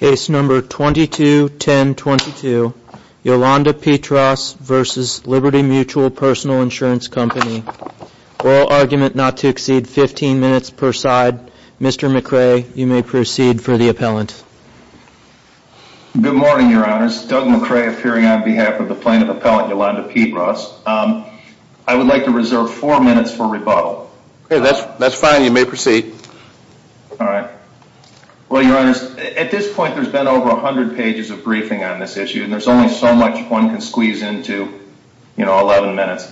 Case number 221022, Yolanda Peatross v. Liberty Mutual Personal Insurance Company. All argument not to exceed 15 minutes per side. Mr. McRae, you may proceed for the appellant. Good morning, Your Honors. Doug McRae appearing on behalf of the plaintiff appellant, Yolanda Peatross. I would like to reserve four minutes for rebuttal. That's fine. You may proceed. All right. Well, Your Honors, at this point, there's been over 100 pages of briefing on this issue, and there's only so much one can squeeze into, you know, 11 minutes.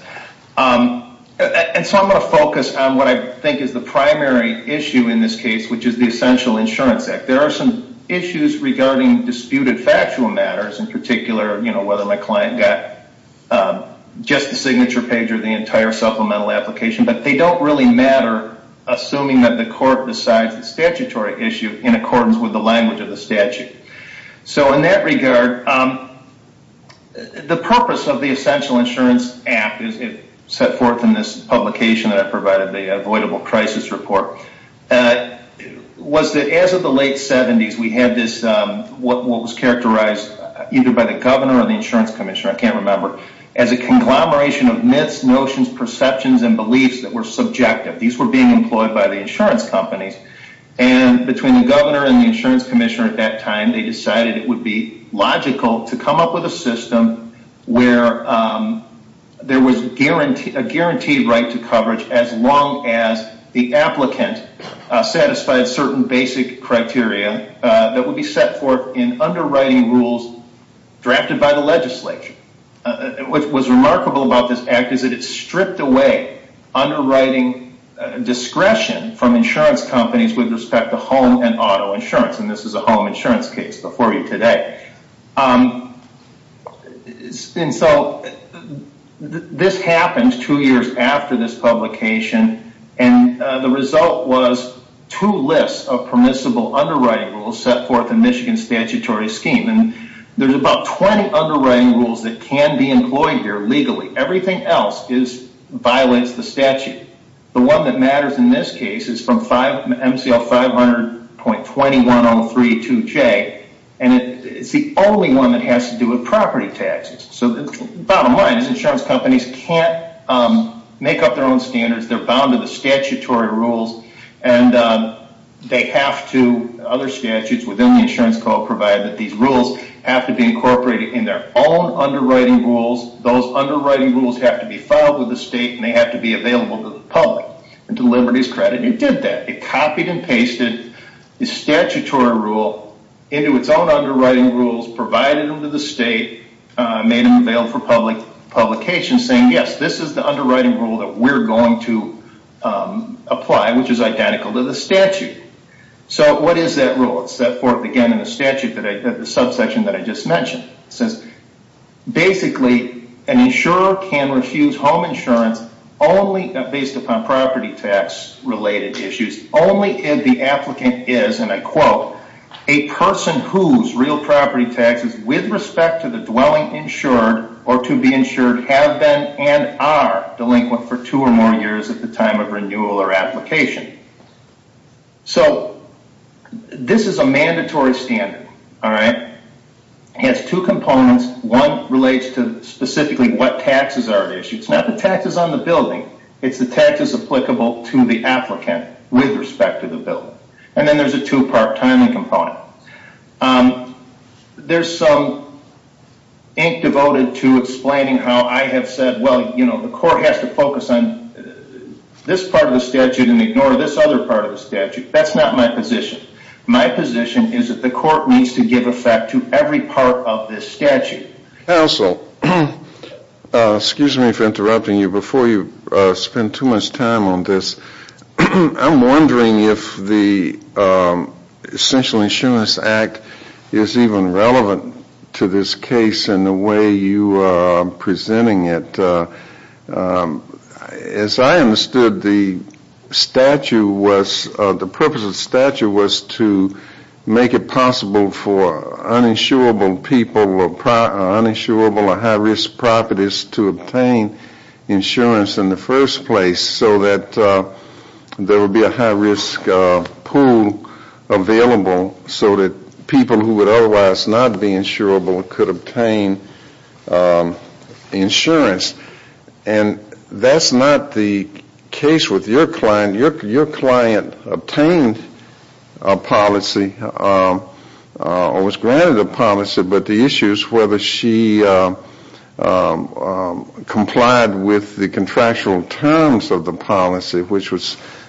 And so I'm going to focus on what I think is the primary issue in this case, which is the Essential Insurance Act. There are some issues regarding disputed factual matters, in particular, you know, whether my client got just the signature page or the entire supplemental application, but they don't really matter, assuming that the court decides the statutory issue in accordance with the language of the statute. So in that regard, the purpose of the Essential Insurance Act, as it's set forth in this publication that I provided, the avoidable crisis report, was that as of the late 70s, we had this, what was characterized either by the governor or the insurance commissioner, I can't remember, as a conglomeration of myths, notions, perceptions, and beliefs that were subjective. These were being employed by the insurance companies. And between the governor and the insurance commissioner at that time, they decided it would be logical to come up with a system where there was a guaranteed right to coverage as long as the applicant satisfied certain basic criteria that would be set forth in underwriting rules drafted by the legislature. What was remarkable about this act is that it stripped away underwriting discretion from insurance companies with respect to home and auto insurance, and this is a home insurance case before you today. And so this happened two years after this publication, and the result was two lists of permissible underwriting rules set forth in Michigan's statutory scheme. And there's about 20 underwriting rules that can be employed here legally. Everything else violates the statute. The one that matters in this case is from MCL 500.21032J, and it's the only one that has to do with property taxes. So the bottom line is insurance companies can't make up their own standards. They're bound to the statutory rules, and they have to, other statutes within the insurance code provide that these rules have to be incorporated in their own underwriting rules. Those underwriting rules have to be filed with the state, and they have to be available to the public. And to Liberty's credit, it did that. It copied and pasted the statutory rule into its own underwriting rules, provided them to the state, made them available for publication, saying, yes, this is the underwriting rule that we're going to apply, which is identical to the statute. So what is that rule? It's that fourth again in the statute, the subsection that I just mentioned. It says, basically, an insurer can refuse home insurance only based upon property tax related issues, only if the applicant is, and I quote, a person whose real property taxes with respect to the dwelling insured or to be insured have been and are delinquent for two or more years at the time of renewal or application. So this is a mandatory standard, all right? It has two components. One relates to specifically what taxes are at issue. It's not the taxes on the building. It's the taxes applicable to the applicant with respect to the building. And then there's a two-part timing component. There's some ink devoted to explaining how I have said, well, you know, the court has to focus on this part of the statute and ignore this other part of the statute. That's not my position. My position is that the court needs to give effect to every part of this statute. Counsel, excuse me for interrupting you. Before you spend too much time on this, I'm wondering if the Essential Insurance Act is even relevant to this case in the way you are presenting it. As I understood, the purpose of the statute was to make it possible for uninsurable people or high-risk properties to obtain insurance in the first place so that there would be a high-risk pool available so that people who would otherwise not be insurable could obtain insurance. And that's not the case with your client. Your client obtained a policy or was granted a policy, but the issue is whether she complied with the contractual terms of the policy, which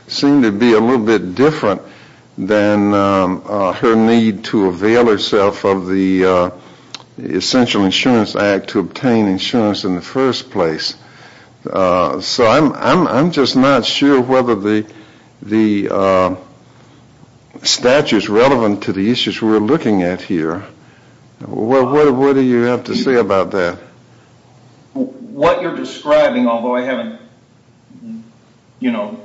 seemed to be a little bit different than her need to avail herself of the Essential Insurance Act to obtain insurance in the first place. So I'm just not sure whether the statute is relevant to the issues we're looking at here. What do you have to say about that? What you're describing, although I haven't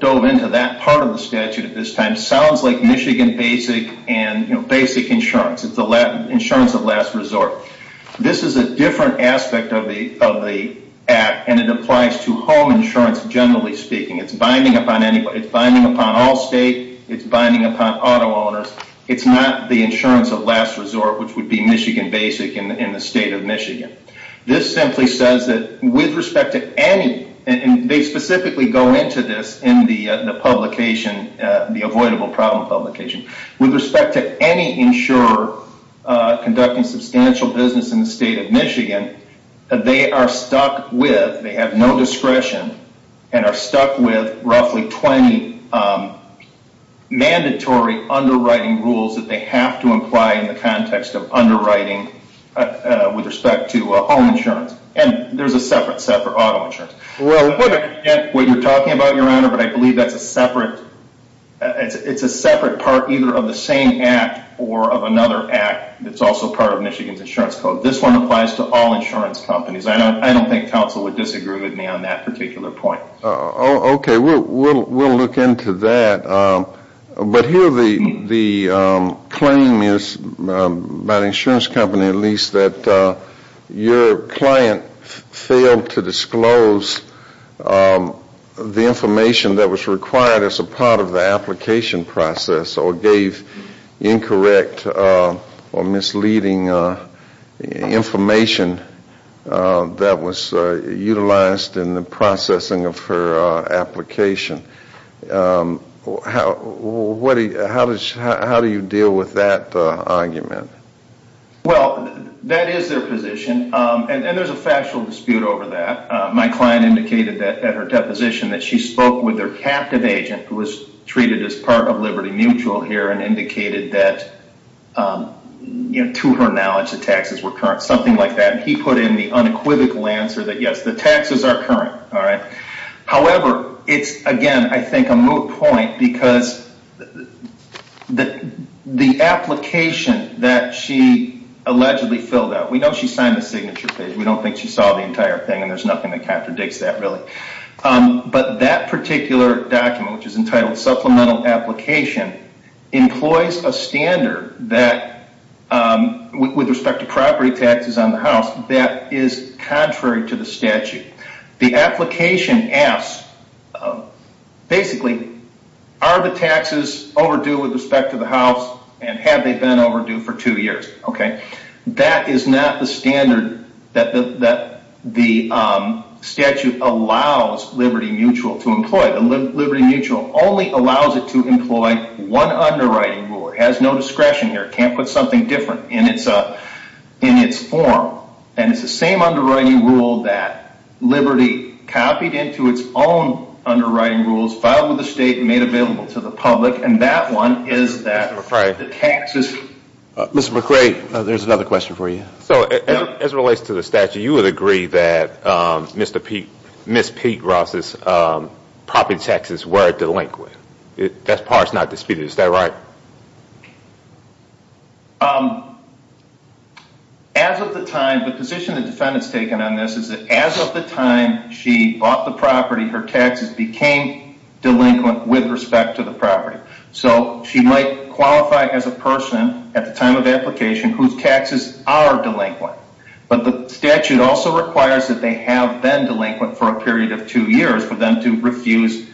dove into that part of the statute at this time, sounds like Michigan basic and basic insurance. It's the insurance of last resort. This is a different aspect of the Act, and it applies to home insurance generally speaking. It's binding upon all state. It's binding upon auto owners. It's not the insurance of last resort, which would be Michigan basic in the state of Michigan. This simply says that with respect to any, and they specifically go into this in the publication, the avoidable problem publication. With respect to any insurer conducting substantial business in the state of Michigan, they are stuck with, they have no discretion, and are stuck with roughly 20 mandatory underwriting rules that they have to apply in the context of underwriting with respect to home insurance. And there's a separate set for auto insurance. I'm not going to forget what you're talking about, Your Honor, but I believe that's a separate part either of the same Act or of another Act that's also part of Michigan's insurance code. This one applies to all insurance companies. I don't think counsel would disagree with me on that particular point. Okay, we'll look into that. But here the claim is, by the insurance company at least, that your client failed to disclose the information that was required as a part of the application process or gave incorrect or misleading information that was utilized in the processing of her application. How do you deal with that argument? Well, that is their position, and there's a factual dispute over that. My client indicated at her deposition that she spoke with their captive agent who was treated as part of Liberty Mutual here and indicated that, to her knowledge, the taxes were current, something like that. He put in the unequivocal answer that, yes, the taxes are current. However, it's, again, I think a moot point because the application that she allegedly filled out, we know she signed the signature page. We don't think she saw the entire thing, and there's nothing that contradicts that, really. But that particular document, which is entitled Supplemental Application, employs a standard that, with respect to property taxes on the house, that is contrary to the statute. The application asks, basically, are the taxes overdue with respect to the house, and have they been overdue for two years? That is not the standard that the statute allows Liberty Mutual to employ. Liberty Mutual only allows it to employ one underwriting rule. It has no discretion here. It can't put something different in its form. It's the same underwriting rule that Liberty copied into its own underwriting rules, filed with the state, and made available to the public. That one is that the taxes... Mr. McRae, there's another question for you. As it relates to the statute, you would agree that Ms. Pete Ross' property taxes were delinquent. That part is not disputed. Is that right? As of the time... The position the defendant has taken on this is that as of the time she bought the property, her taxes became delinquent with respect to the property. So she might qualify as a person, at the time of application, whose taxes are delinquent. But the statute also requires that they have been delinquent for a period of two years for them to refuse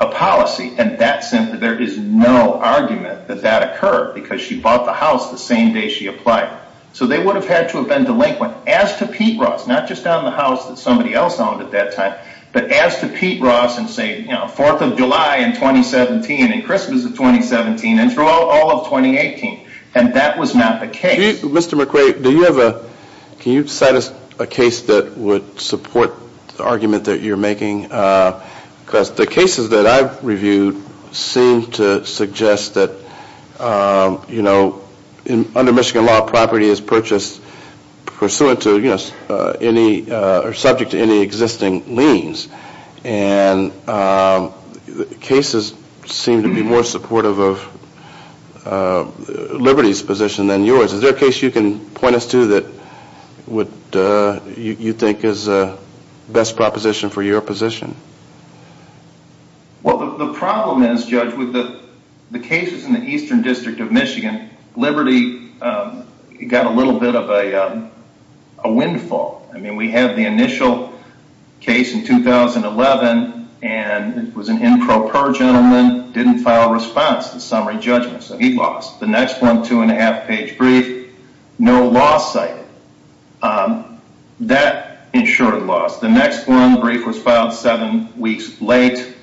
a policy. There is no argument that that occurred because she bought the house the same day she applied. So they would have had to have been delinquent, as to Pete Ross, not just on the house that somebody else owned at that time, but as to Pete Ross and say, you know, 4th of July in 2017 and Christmas of 2017 and through all of 2018. And that was not the case. Mr. McRae, do you have a... Can you cite us a case that would support the argument that you're making? Because the cases that I've reviewed seem to suggest that, you know, under Michigan law, property is purchased pursuant to any... or subject to any existing liens. And cases seem to be more supportive of Liberty's position than yours. Is there a case you can point us to that would... you think is the best proposition for your position? Well, the problem is, Judge, with the cases in the Eastern District of Michigan, Liberty got a little bit of a windfall. I mean, we have the initial case in 2011, and it was an improper gentleman, didn't file a response to summary judgment. So he lost. The next one, two-and-a-half-page brief, no law cited. That insured loss. The next one, the brief was filed seven weeks late,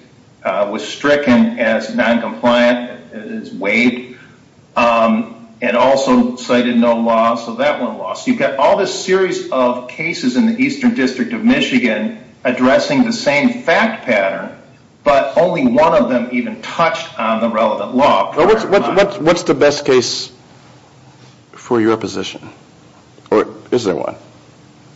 was stricken as noncompliant, as waived, and also cited no law, so that one lost. You've got all this series of cases in the Eastern District of Michigan addressing the same fact pattern, but only one of them even touched on the relevant law. What's the best case for your position? Or is there one?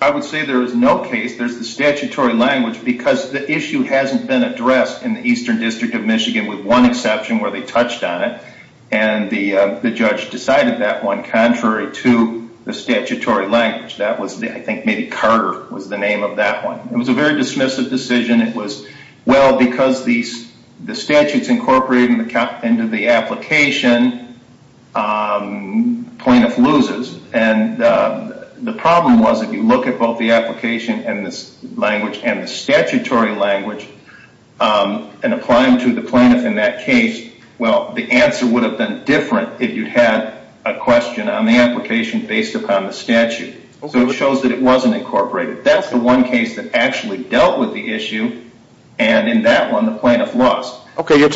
I would say there is no case. There's the statutory language, because the issue hasn't been addressed in the Eastern District of Michigan, with one exception where they touched on it, and the judge decided that one contrary to the statutory language. I think maybe Carter was the name of that one. It was a very dismissive decision. It was, well, because the statute's incorporated into the application, plaintiff loses. And the problem was, if you look at both the application and the language and the statutory language and apply them to the plaintiff in that case, well, the answer would have been different if you'd had a question on the application based upon the statute. So it shows that it wasn't incorporated. That's the one case that actually dealt with the issue, and in that one the plaintiff lost. Okay, your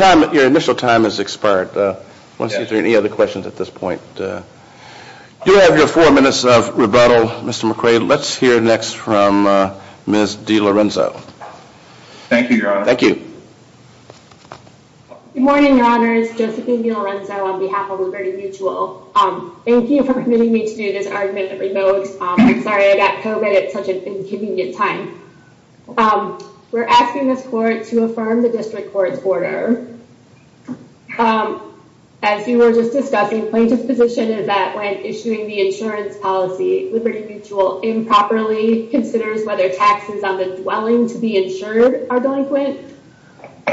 initial time has expired. I want to see if there are any other questions at this point. You have your four minutes of rebuttal, Mr. McQuaid. Let's hear next from Ms. DiLorenzo. Thank you, Your Honor. Thank you. Good morning, Your Honors. Josephine DiLorenzo on behalf of Liberty Mutual. Thank you for permitting me to do this argument at remote. I'm sorry I got COVID at such an inconvenient time. We're asking this court to affirm the district court's order. As we were just discussing, plaintiff's position is that when issuing the insurance policy, Liberty Mutual improperly considers whether taxes on the dwelling to be insured are delinquent,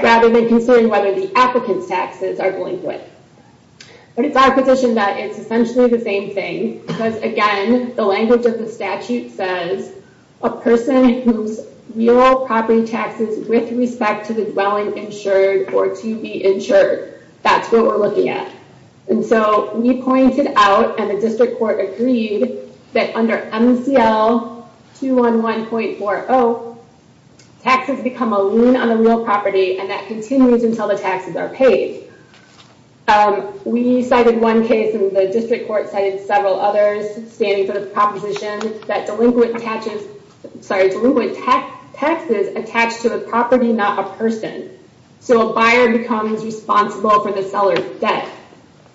rather than considering whether the applicant's taxes are delinquent. But it's our position that it's essentially the same thing, because again, the language of the statute says a person whose real property taxes with respect to the dwelling insured or to be insured, that's what we're looking at. And so we pointed out, and the district court agreed that under MCL 211.40, taxes become a lien on the real property, and that continues until the taxes are paid. We cited one case, and the district court cited several others standing for the proposition that delinquent taxes attached to the property, not a person. So a buyer becomes responsible for the seller's debt.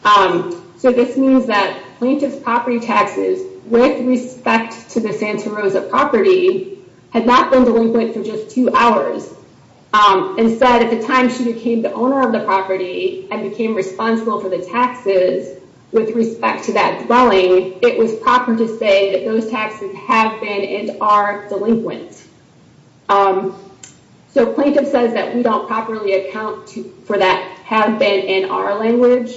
So this means that plaintiff's property taxes, with respect to the Santa Rosa property, had not been delinquent for just two hours. Instead, at the time she became the owner of the property, and became responsible for the taxes with respect to that dwelling, it was proper to say that those taxes have been and are delinquent. So plaintiff says that we don't properly account for that have been in our language,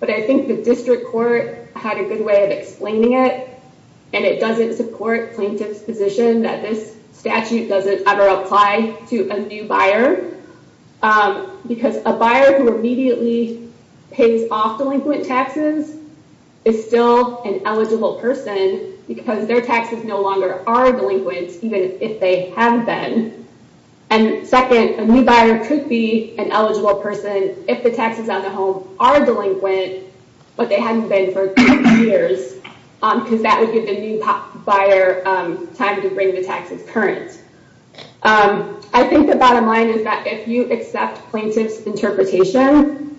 but I think the district court had a good way of explaining it. And it doesn't support plaintiff's position that this statute doesn't ever apply to a new buyer, because a buyer who immediately pays off delinquent taxes is still an eligible person because their taxes no longer are delinquent, even if they have been. And second, a new buyer could be an eligible person if the taxes on the home are delinquent, but they haven't been for years, because that would give the new buyer time to bring the taxes current. I think the bottom line is that if you accept plaintiff's interpretation,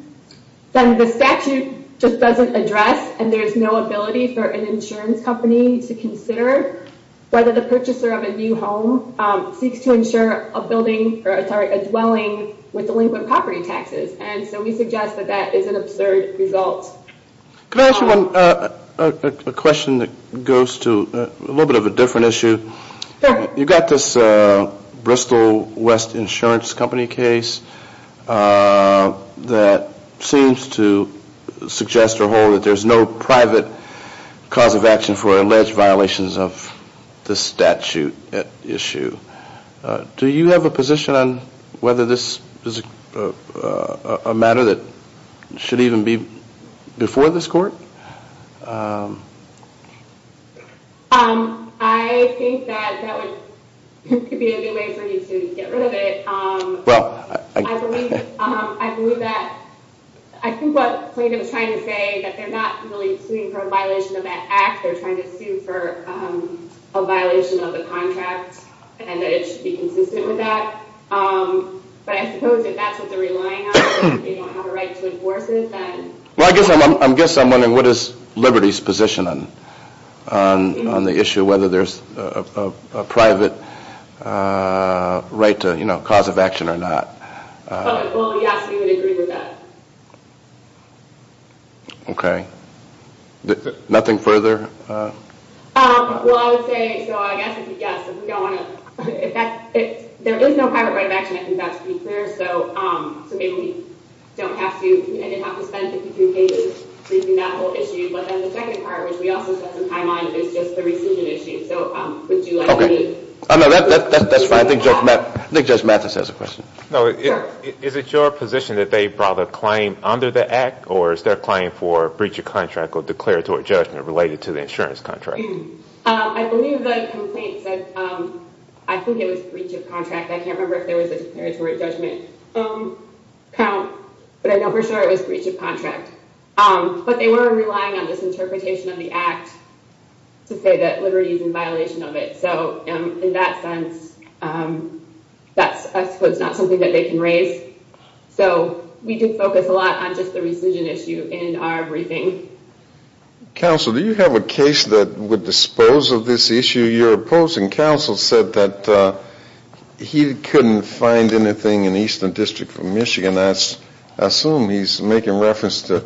then the statute just doesn't address, and there's no ability for an insurance company to consider whether the purchaser of a new home seeks to insure a dwelling with delinquent property taxes. And so we suggest that that is an absurd result. Can I ask you a question that goes to a little bit of a different issue? Sure. You've got this Bristol West Insurance Company case that seems to suggest or hold that there's no private cause of action for alleged violations of this statute issue. Do you have a position on whether this is a matter that should even be before this court? I think that that could be a good way for you to get rid of it. I believe that, I think what plaintiff is trying to say, that they're not really suing for a violation of that act, they're trying to sue for a violation of the contract, and that it should be consistent with that. But I suppose if that's what they're relying on, if they don't have a right to enforce it, then... Well, I guess I'm wondering what is Liberty's position on the issue, whether there's a private right to cause of action or not. Well, yes, we would agree with that. Okay. Nothing further? Well, I would say, so I guess it's a yes. If we don't want to, if that, there is no private right of action, I think that's to be clear, so maybe we don't have to, I didn't have to spend 53 pages briefing that whole issue. But then the second part, which we also spent some time on, is just the rescission issue. So would you like me... That's fine. I think Judge Mathis has a question. Is it your position that they brought a claim under the act, or is their claim for breach of contract or declaratory judgment related to the insurance contract? I believe the complaint said, I think it was breach of contract. I can't remember if there was a declaratory judgment count, but I know for sure it was breach of contract. But they were relying on this interpretation of the act to say that Liberty is in violation of it. So in that sense, that's, I suppose, not something that they can raise. So we did focus a lot on just the rescission issue in our briefing. Counsel, do you have a case that would dispose of this issue you're opposing? The Michigan counsel said that he couldn't find anything in the Eastern District of Michigan. I assume he's making reference to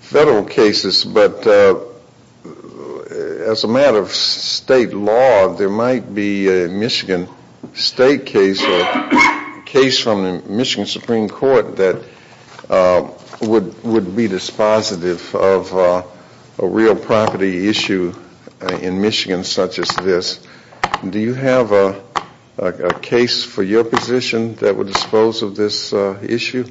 federal cases. But as a matter of state law, there might be a Michigan state case or a case from the Michigan Supreme Court that would be dispositive of a real property issue in Michigan such as this. Do you have a case for your position that would dispose of this issue?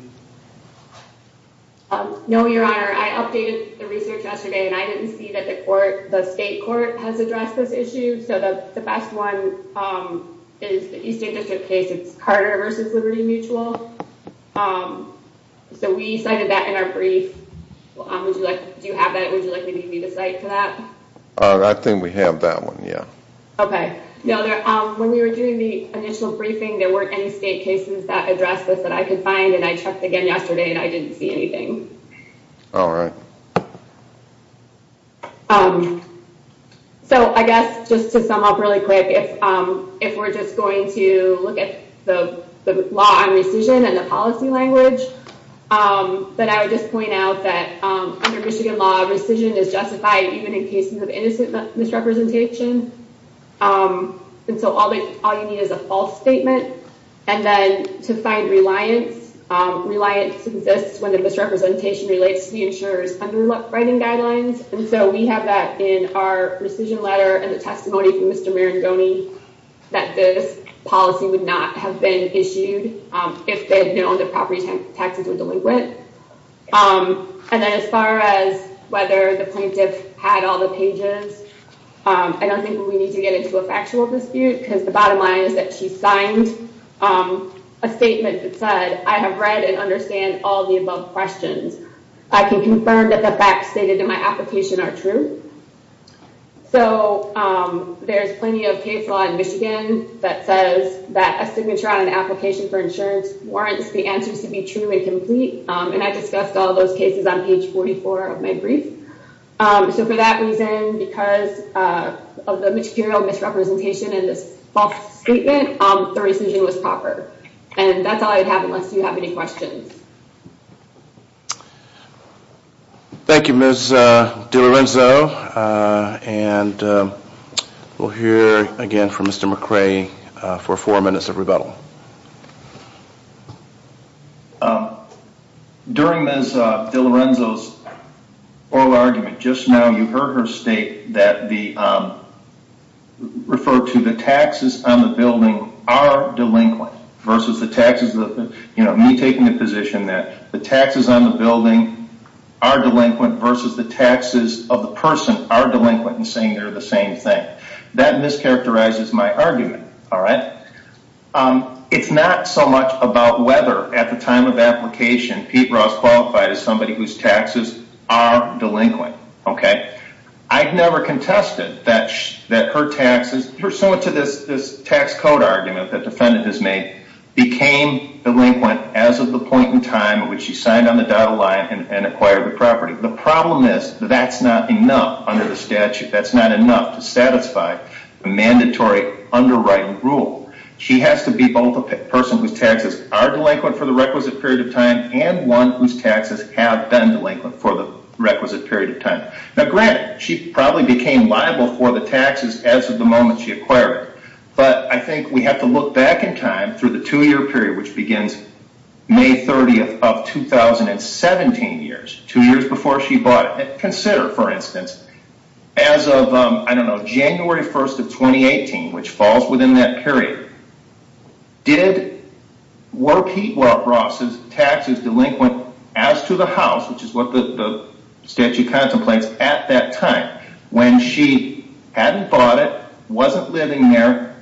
No, Your Honor. I updated the research yesterday, and I didn't see that the state court has addressed this issue. So the best one is the Eastern District case. It's Carter v. Liberty Mutual. So we cited that in our brief. Do you have that? Would you like me to cite to that? I think we have that one, yeah. Okay. No, when we were doing the initial briefing, there weren't any state cases that addressed this that I could find, and I checked again yesterday, and I didn't see anything. All right. So I guess just to sum up really quick, if we're just going to look at the law on rescission and the policy language, then I would just point out that under Michigan law, rescission is justified even in cases of innocent misrepresentation. And so all you need is a false statement. And then to find reliance, reliance exists when the misrepresentation relates to the insurer's underwriting guidelines. And so we have that in our rescission letter and the testimony from Mr. Marangoni that this policy would not have been issued if they had known the property taxes were delinquent. And then as far as whether the plaintiff had all the pages, I don't think we need to get into a factual dispute, because the bottom line is that she signed a statement that said, I have read and understand all the above questions. I can confirm that the facts stated in my application are true. So there's plenty of case law in Michigan that says that a signature on an application for insurance warrants the answers to be true and complete. And I discussed all those cases on page 44 of my brief. So for that reason, because of the material misrepresentation in this false statement, the rescission was proper. And that's all I have unless you have any questions. Thank you, Ms. DiLorenzo. And we'll hear again from Mr. McRae for four minutes of rebuttal. During Ms. DiLorenzo's oral argument, just now you heard her state that the, refer to the taxes on the building are delinquent versus the taxes, you know, me taking the position that the taxes on the building are delinquent versus the taxes of the person are delinquent and saying they're the same thing. That mischaracterizes my argument, all right? It's not so much about whether at the time of application, Pete Ross qualified as somebody whose taxes are delinquent, okay? I've never contested that her taxes, pursuant to this tax code argument that the defendant has made, became delinquent as of the point in time at which she signed on the dotted line and acquired the property. The problem is that that's not enough under the statute. That's not enough to satisfy a mandatory underwriting rule. She has to be both a person whose taxes are delinquent for the requisite period of time and one whose taxes have been delinquent for the requisite period of time. Now, granted, she probably became liable for the taxes as of the moment she acquired it. But I think we have to look back in time through the two-year period, which begins May 30th of 2017 years, two years before she bought it. Consider, for instance, as of, I don't know, January 1st of 2018, which falls within that period, were Pete Ross's taxes delinquent as to the house, which is what the statute contemplates at that time, when she hadn't bought it, wasn't living there,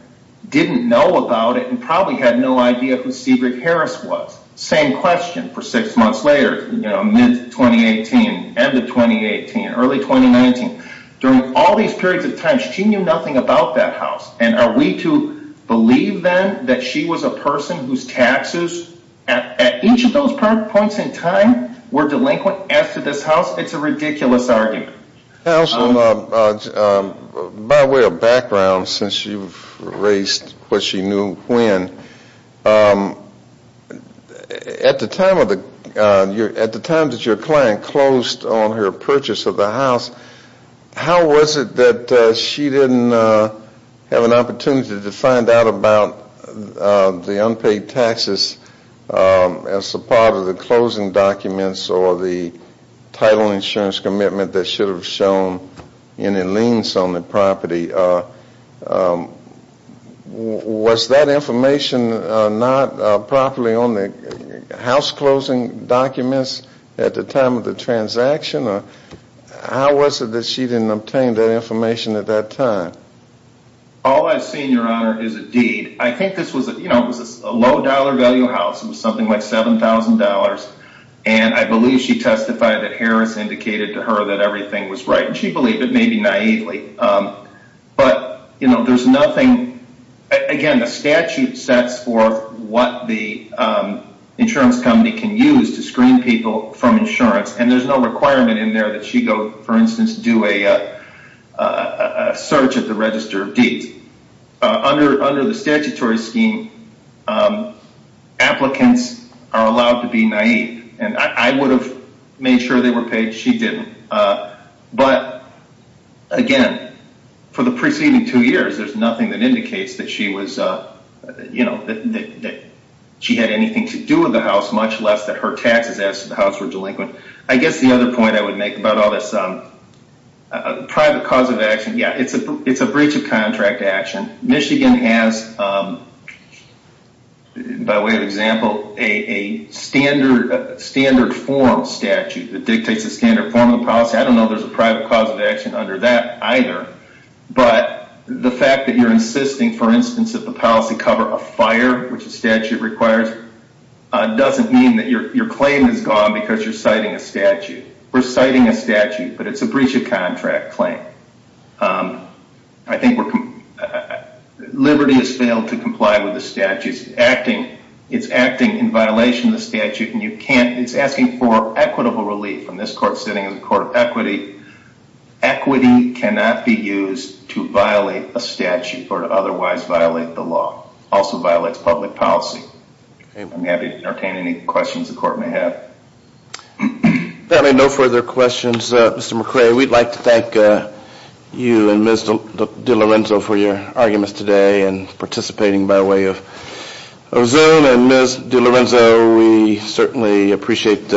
didn't know about it, and probably had no idea who Seabrook Harris was. Same question for six months later, mid-2018, end of 2018, early 2019. During all these periods of time, she knew nothing about that house. And are we to believe then that she was a person whose taxes at each of those points in time were delinquent as to this house? It's a ridiculous argument. By way of background, since you've raised what she knew when, at the time that your client closed on her purchase of the house, how was it that she didn't have an opportunity to find out about the unpaid taxes as a part of the closing documents or the title insurance commitment that should have shown any liens on the property? Was that information not properly on the house closing documents at the time of the transaction? How was it that she didn't obtain that information at that time? All I've seen, Your Honor, is a deed. I think this was a low-dollar value house. It was something like $7,000. And I believe she testified that Harris indicated to her that everything was right, and she believed it, maybe naively. Again, the statute sets forth what the insurance company can use to screen people from insurance, and there's no requirement in there that she go, for instance, do a search at the Register of Deeds. Under the statutory scheme, applicants are allowed to be naive. And I would have made sure they were paid. She didn't. But, again, for the preceding two years, there's nothing that indicates that she was, you know, that she had anything to do with the house, much less that her taxes asked for the house were delinquent. I guess the other point I would make about all this private cause of action, yeah, it's a breach of contract action. Michigan has, by way of example, a standard form statute that dictates the standard form of the policy. I don't know if there's a private cause of action under that either, but the fact that you're insisting, for instance, that the policy cover a fire, which a statute requires, doesn't mean that your claim is gone because you're citing a statute. We're citing a statute, but it's a breach of contract claim. I think we're – Liberty has failed to comply with the statute. It's acting in violation of the statute, and you can't – it's asking for equitable relief. And this court sitting is a court of equity. Equity cannot be used to violate a statute or to otherwise violate the law. It also violates public policy. I'm happy to entertain any questions the court may have. Apparently no further questions. Mr. McRae, we'd like to thank you and Ms. DiLorenzo for your arguments today and participating by way of Ozone. And Ms. DiLorenzo, we certainly appreciate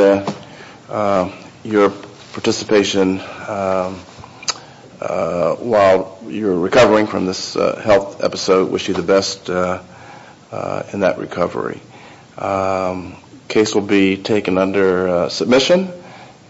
your participation. While you're recovering from this health episode, wish you the best in that recovery. Case will be taken under submission.